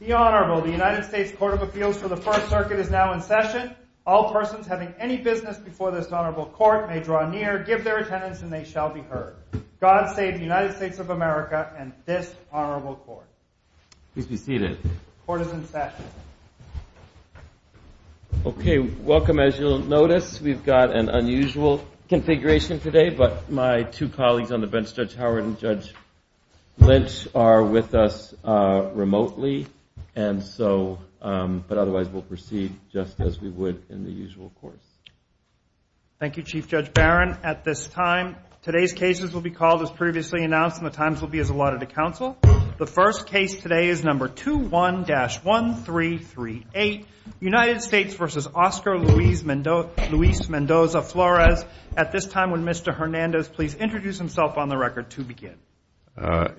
The Honorable, the United States Court of Appeals for the First Circuit is now in session. All persons having any business before this Honorable Court may draw near, give their attendance, and they shall be heard. God save the United States of America and this Honorable Court. Please be seated. Court is in session. Okay, welcome. As you'll notice, we've got an unusual configuration today, but my two and so, but otherwise we'll proceed just as we would in the usual course. Thank you, Chief Judge Barron. At this time, today's cases will be called as previously announced and the times will be as allotted to counsel. The first case today is number 21-1338, United States v. Oscar Luis Mendoza-Flores. At this time, would Mr. Hernandez please introduce himself on the record to begin?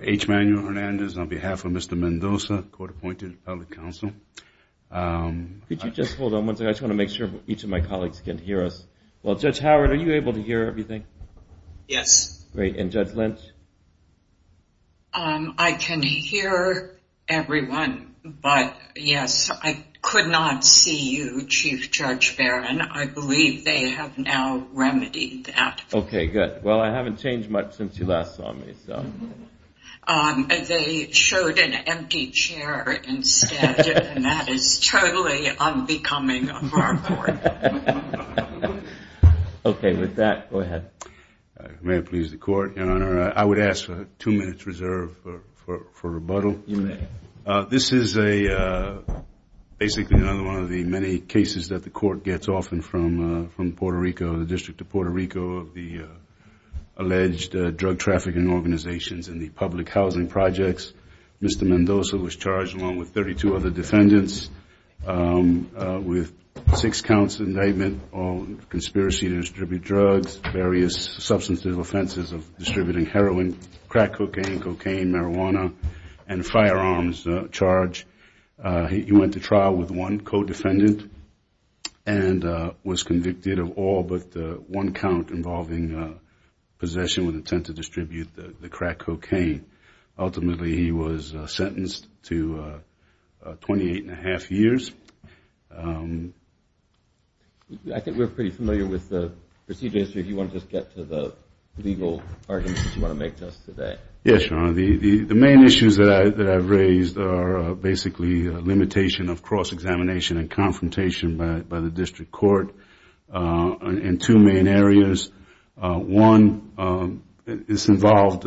H. Manuel Hernandez on behalf of Mr. Mendoza, court-appointed public counsel. Could you just hold on one second? I just want to make sure each of my colleagues can hear us. Well, Judge Howard, are you able to hear everything? Yes. Great. And Judge Lynch? I can hear everyone, but yes, I could not see you, Chief Judge Barron. I believe they have now remedied that. Okay, good. Well, I haven't changed much since you last saw me, so. Um, they showed an empty chair instead and that is totally unbecoming of our court. Okay, with that, go ahead. May it please the court, Your Honor? I would ask for two minutes reserved for rebuttal. You may. This is a, basically another one of the many cases that the court gets often from Puerto Rico, the District of Puerto Rico, of the in the public housing projects. Mr. Mendoza was charged along with 32 other defendants with six counts of indictment on conspiracy to distribute drugs, various substantive offenses of distributing heroin, crack cocaine, cocaine, marijuana, and firearms charge. He went to trial with one co-defendant and was convicted of all but one count involving possession with intent to distribute the crack cocaine. Ultimately, he was sentenced to 28 and a half years. I think we're pretty familiar with the procedure. If you want to just get to the legal arguments that you want to make to us today. Yes, Your Honor. The main issues that I've raised are basically a limitation of cross-examination and confrontation by the district court in two main areas. One, this involved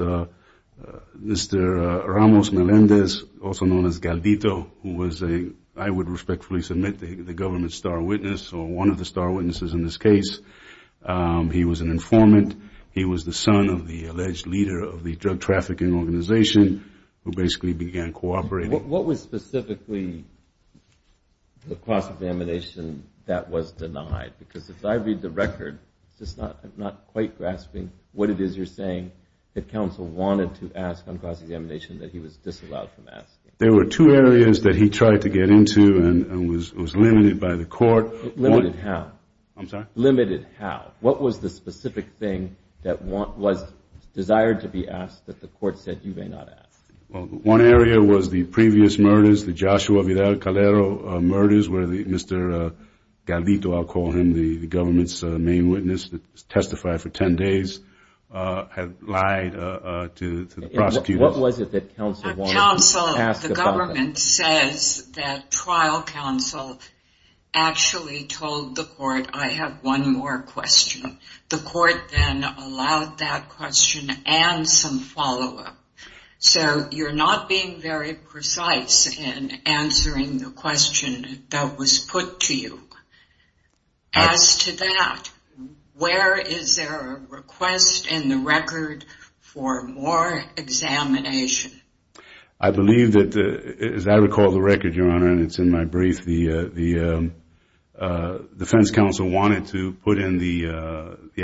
Mr. Ramos Melendez, also known as Galdito, who was a, I would respectfully submit, the government's star witness or one of the star witnesses in this case. He was an informant. He was the son of the alleged leader of the drug trafficking organization who basically began cooperating. What was specifically the cross-examination that was denied? Because if I read the record, I'm just not quite grasping what it is you're saying that counsel wanted to ask on cross-examination that he was disallowed from asking. There were two areas that he tried to get into and was limited by the court. Limited how? I'm sorry? Limited how? What was the specific thing that was desired to be asked that the court said you may not ask? Well, one area was the previous murders, the Joshua Vidal Calero murders, where Mr. Galdito, I'll call him, the government's main witness that testified for 10 days, had lied to the prosecutors. What was it that counsel wanted to ask? Counsel, the government says that trial counsel actually told the court, I have one more question. The So you're not being very precise in answering the question that was put to you. As to that, where is there a request in the record for more examination? I believe that, as I recall the record, Your Honor, and it's in my brief, the defense counsel wanted to put in the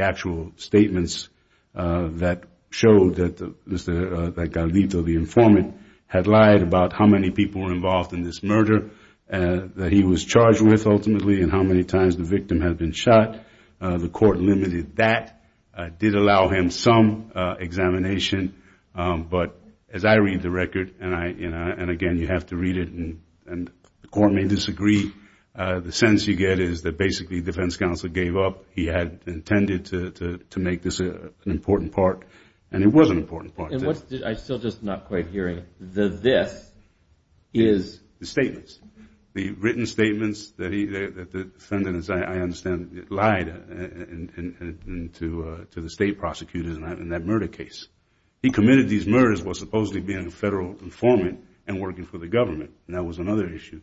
actual statements that showed that Mr. Galdito, the informant, had lied about how many people were involved in this murder, that he was charged with ultimately, and how many times the victim had been shot. The court limited that. It did allow him some examination. But as I read the record, and again, you have to read it, and the court may disagree, the sense you get is that defense counsel gave up. He had intended to make this an important part, and it was an important part. I'm still just not quite hearing the this. The statements. The written statements that the defendants, I understand, lied to the state prosecutors in that murder case. He committed these murders while supposedly being a federal informant and working for the government. That was another issue.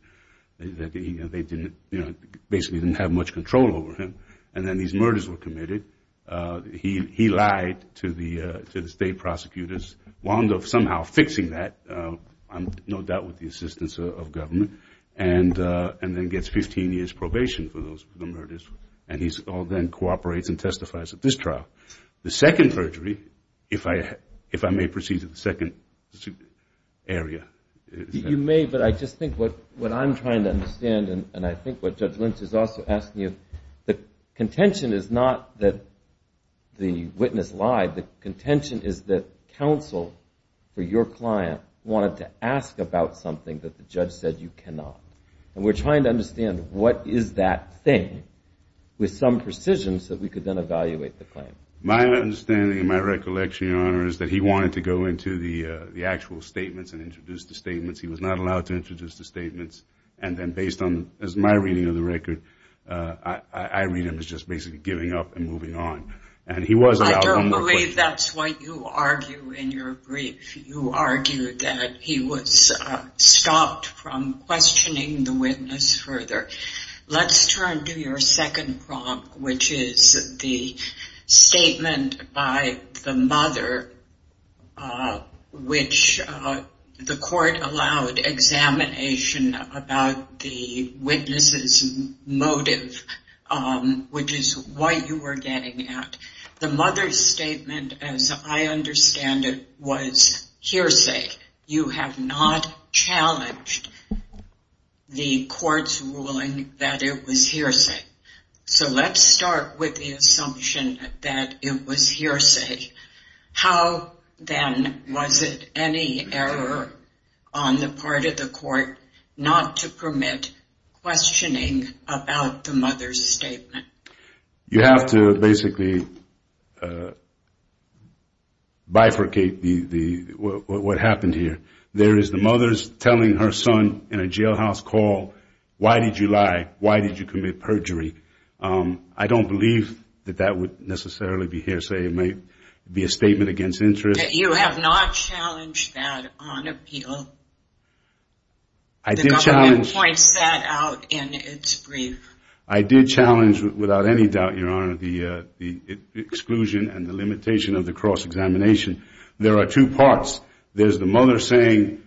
They didn't, you know, basically didn't have much control over him. And then these murders were committed. He lied to the state prosecutors, wound up somehow fixing that, no doubt with the assistance of government, and then gets 15 years probation for those murders. And he then cooperates and testifies at this trial. The second perjury, if I may proceed to the second area. You may, but I just think what I'm trying to understand, and I think what Judge Lynch is also asking you, the contention is not that the witness lied. The contention is that counsel for your client wanted to ask about something that the judge said you cannot. And we're trying to understand what is that thing with some precision so that we could then evaluate the actual statements and introduce the statements. He was not allowed to introduce the statements. And then based on my reading of the record, I read him as just basically giving up and moving on. I don't believe that's what you argue in your brief. You argue that he was stopped from questioning the witness further. Let's turn to your second prompt, which is the statement by the mother, which the court allowed examination about the witness's motive, which is what you were getting at. The mother's statement, as I understand it, was hearsay. You have not challenged the court's ruling that it was hearsay. So let's start with the assumption that it was hearsay. How then was it any error on the part of the court not to permit questioning about the mother's statement? You have to basically bifurcate what happened here. There is the mother's telling her in a jailhouse call, why did you lie? Why did you commit perjury? I don't believe that that would necessarily be hearsay. It may be a statement against interest. You have not challenged that on appeal. The government points that out in its brief. I did challenge without any doubt, Your Honor, the exclusion and the limitation of the cross-examination. There are two parts. There is the mother saying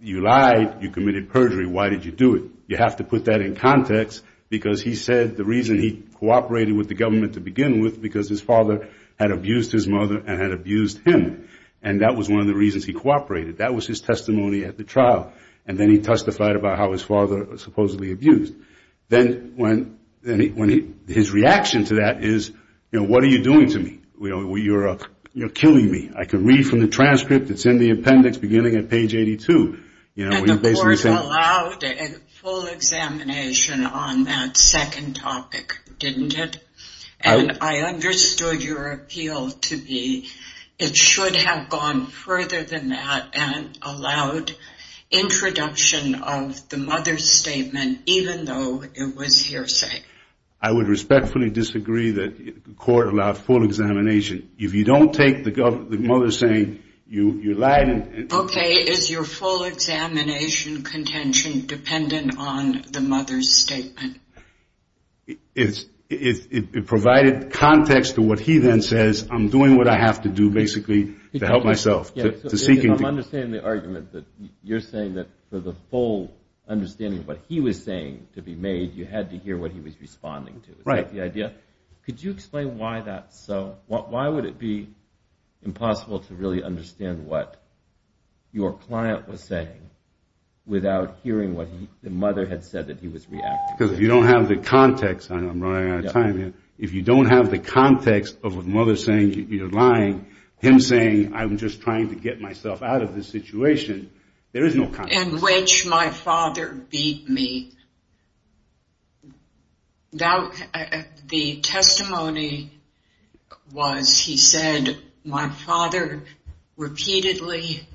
you lied, you committed perjury, why did you do it? You have to put that in context, because he said the reason he cooperated with the government to begin with, because his father had abused his mother and had abused him. That was one of the reasons he cooperated. That was his testimony at the trial. Then he testified about how his father was supposedly abused. His reaction to that is, what are you doing to me? You are killing me. I can the transcript, it is in the appendix beginning at page 82. The court allowed a full examination on that second topic, didn't it? I understood your appeal to be, it should have gone further than that and allowed introduction of the mother's statement, even though it was hearsay. I would respectfully disagree that the court allowed full examination. If you don't take the mother saying you lied. Okay, is your full examination contention dependent on the mother's statement? It provided context to what he then says, I'm doing what I have to do basically to help myself. I'm understanding the argument that you're saying that for the full understanding of what he was saying to be made, you had to hear what he was responding to. Is that the idea? Could you explain why that's so? Why would it be impossible to really understand what your client was saying without hearing what the mother had said that he was reacting to? Because if you don't have the context, I'm running out of time here, if you don't have the context of a mother saying you're lying, him saying I'm just trying to get myself out of this situation, there is no context. In which my father beat me. The testimony was, he said, my father repeatedly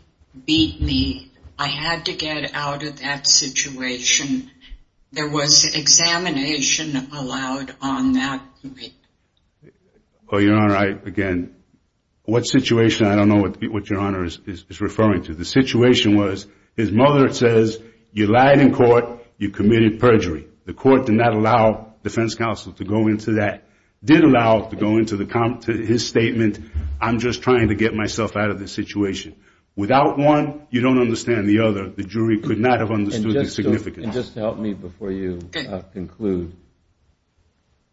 beat me. I had to get out of that situation. There was examination allowed on that. Your Honor, again, what situation, I don't know what your Honor is referring to. The situation was, his mother says, you lied in court, you committed perjury. The court did not allow defense counsel to go into that. Did allow to go into his statement, I'm just trying to get myself out of this situation. Without one, you don't understand the other. The jury could not have understood the significance. And just to help me before you conclude,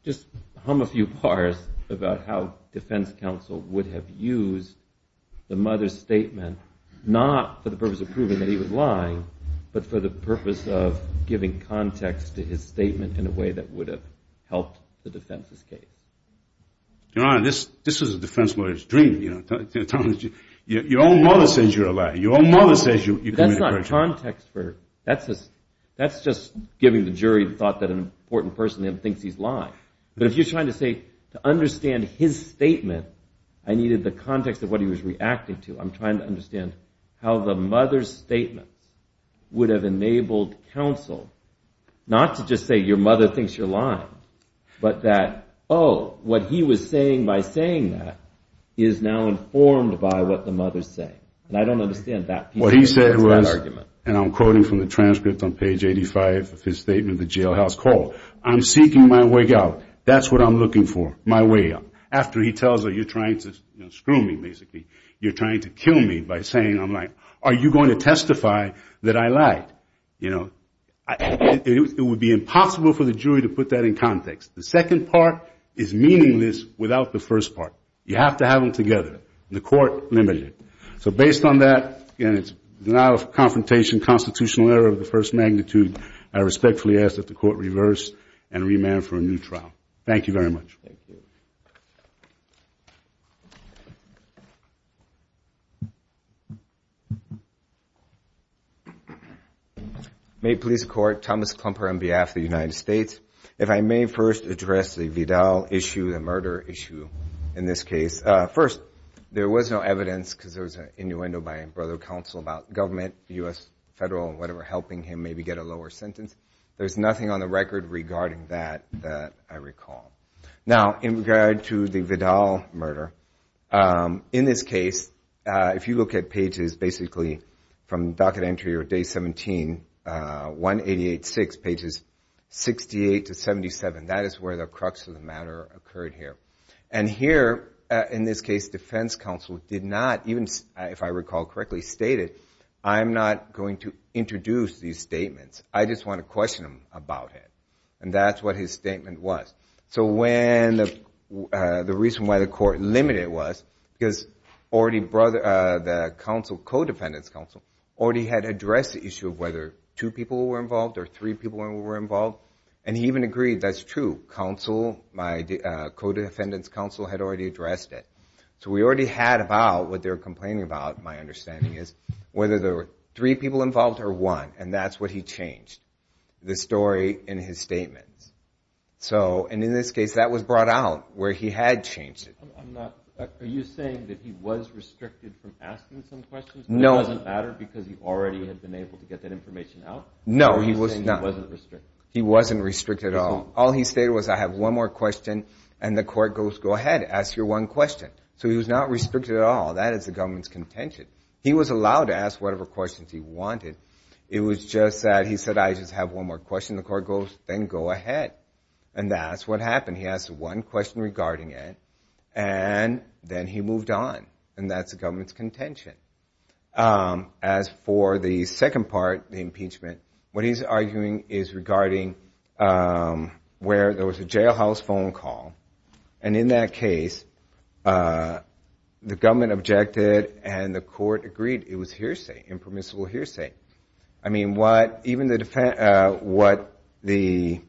just hum a few bars about how defense counsel would have used the mother's statement, not for the purpose of proving that he was lying, but for the purpose of giving context to his statement in a way that would have helped the defense escape. Your Honor, this is a defense lawyer's dream. Your own mother says you're a liar. Your own mother says you committed perjury. That's not context. That's just giving the jury the thought that an important person thinks he's lying. But if you're trying to say, to understand his statement, I needed the context of what he was reacting to. I'm trying to understand how the mother's statement would have enabled counsel not to just say, your mother thinks you're lying, but that, oh, what he was saying by saying that is now informed by what the mother's saying. And I don't understand that piece of argument. What he said was, and I'm quoting from the statement, I'm seeking my way out. That's what I'm looking for, my way out. After he tells her, you're trying to screw me, basically. You're trying to kill me by saying, I'm like, are you going to testify that I lied? It would be impossible for the jury to put that in context. The second part is meaningless without the first part. You have to have them together. The court limited it. So based on that, and it's denial of confrontation, constitutional error of first magnitude, I respectfully ask that the court reverse and remand for a new trial. Thank you very much. May it please the court, Thomas Klumper on behalf of the United States. If I may first address the Vidal issue, the murder issue in this case. First, there was no evidence because there was an innuendo by a brother of counsel about government, the U.S. federal, helping him maybe get a lower sentence. There's nothing on the record regarding that, that I recall. Now, in regard to the Vidal murder, in this case, if you look at pages basically from docket entry or day 17, 188.6, pages 68 to 77, that is where the crux of the matter occurred here. And here, in this case, defense counsel did not, even if I recall correctly, stated, I'm not going to introduce these statements. I just want to question him about it. And that's what his statement was. So when the reason why the court limited it was because already brother, the counsel, co-defendant's counsel, already had addressed the issue of whether two people were involved or three people were involved. And he even agreed, that's true, counsel, my co-defendant's counsel had already addressed it. So we already had about what they're complaining about, my understanding is, whether there were three people involved or one. And that's what he changed, the story in his statements. So, and in this case, that was brought out where he had changed it. I'm not, are you saying that he was restricted from asking some questions? No. That doesn't matter because he already had been able to get that information out? No, he was not. He wasn't restricted at all. All he stated was, I have one more question, and the court goes, go ahead, ask your one question. So he was not restricted at all. That is the government's contention. He was allowed to ask whatever questions he wanted. It was just that he said, I just have one more question, the court goes, then go ahead. And that's what happened. He asked one question regarding it, and then he moved on. And that's the government's contention. As for the second part, the impeachment, what he's arguing is regarding where there was a jailhouse phone call. And in that case, the government objected, and the court agreed it was hearsay, impermissible hearsay. I mean, what, even the, what the,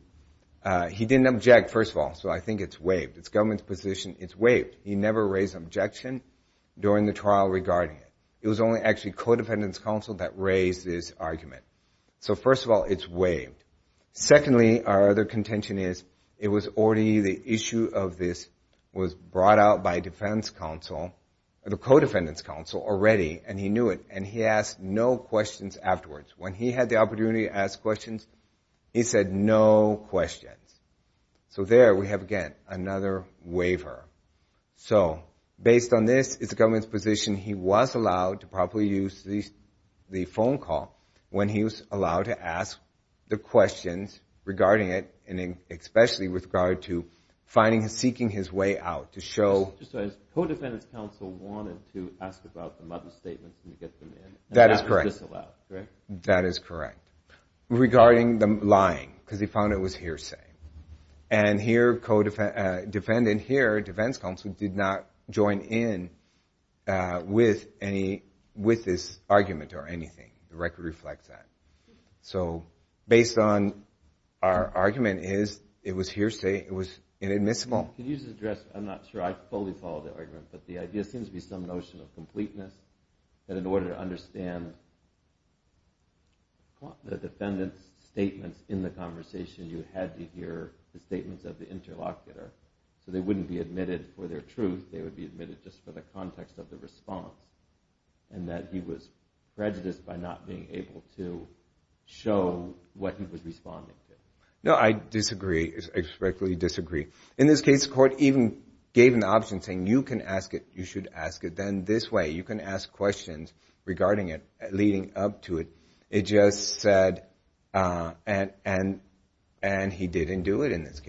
he didn't object, first of all. So I think it's waived. It's government's position, it's waived. He never raised an objection during the trial regarding it. It was only actually that raised this argument. So first of all, it's waived. Secondly, our other contention is, it was already, the issue of this was brought out by defense counsel, the co-defendant's counsel already, and he knew it. And he asked no questions afterwards. When he had the opportunity to ask questions, he said no questions. So there we have, again, another waiver. So based on this, it's the government's position he was allowed to properly use the phone call when he was allowed to ask the questions regarding it, and especially with regard to finding and seeking his way out to show- Just to ask, co-defendant's counsel wanted to ask about the mother's statements and to get them in. That is correct. And that was disallowed, correct? That is correct. Regarding the lying, because he found it was hearsay. And here, co-defendant here, defense counsel did not go in with this argument or anything. The record reflects that. So based on our argument is, it was hearsay. It was inadmissible. Could you just address, I'm not sure I fully follow the argument, but the idea seems to be some notion of completeness, that in order to understand the defendant's statements in the conversation, you had to hear the statements of the interlocutor. So they wouldn't be admitted for their truth. They would be admitted just for the context of the response, and that he was prejudiced by not being able to show what he was responding to. No, I disagree. I respectfully disagree. In this case, court even gave an option saying, you can ask it, you should ask it. Then this way, you can ask questions regarding it, leading up to it. It just said, and he didn't do it in this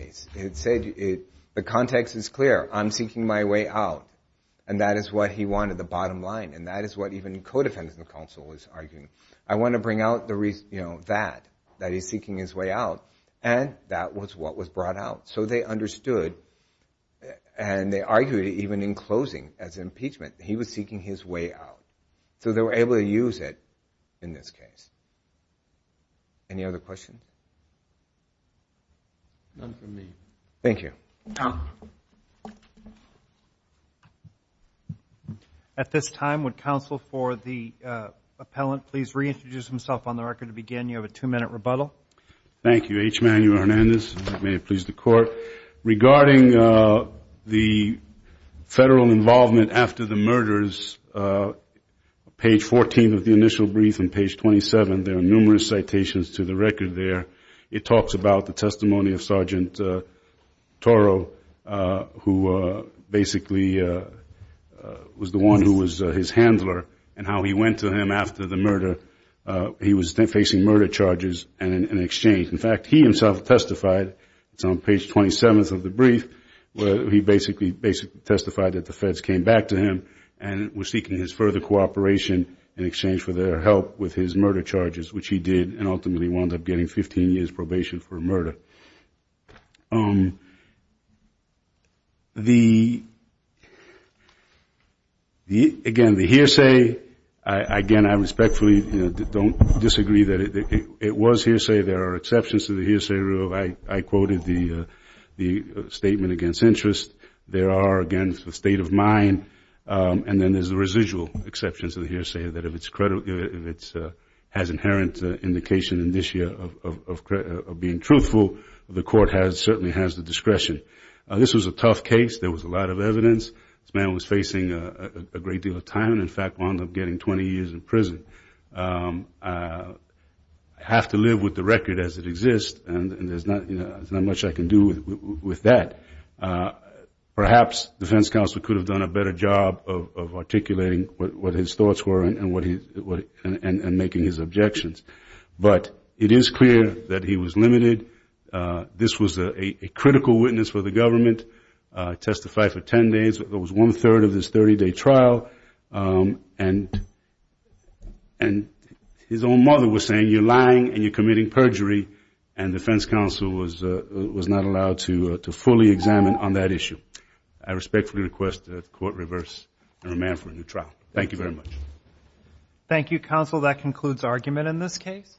And that is what he wanted, the bottom line. And that is what even co-defendant counsel was arguing. I want to bring out that, that he's seeking his way out, and that was what was brought out. So they understood, and they argued even in closing as impeachment, he was seeking his way out. So they were able to use it in this case. Any other questions? None from me. Thank you. At this time, would counsel for the appellant please reintroduce himself on the record to begin? You have a two-minute rebuttal. Thank you, H. Manuel Hernandez. May it please the court. Regarding the federal involvement after the murders, page 14 of the initial brief and page 27, there are numerous citations to the record there. It talks about the testimony of Sergeant Toro, who basically was the one who was his handler, and how he went to him after the murder. He was facing murder charges in exchange. In fact, he himself testified, it's on page 27 of the brief, where he basically testified that the feds came back to him and were seeking his further cooperation in exchange for their help with his murder charges, which he did, and ultimately wound up getting 15 years probation for murder. Again, the hearsay, again, I respectfully don't disagree that it was hearsay. There are exceptions to the hearsay rule. I quoted the statement against interest. There are, again, the state of mind, and then there's the residual exceptions to the hearsay. It has inherent indication in this year of being truthful. The court certainly has the discretion. This was a tough case. There was a lot of evidence. This man was facing a great deal of time. In fact, wound up getting 20 years in prison. I have to live with the record as it exists, and there's not much I can do with that. Perhaps defense counsel could have done a better job of articulating what his thoughts were and making his objections, but it is clear that he was limited. This was a critical witness for the government. Testified for 10 days. There was one third of this 30-day trial, and his own mother was saying, you're lying and you're committing perjury, and defense counsel was not allowed to fully examine on that issue. I respectfully request that the court reverse and remand for a new trial. Thank you very much. Thank you, counsel. That concludes argument in this case.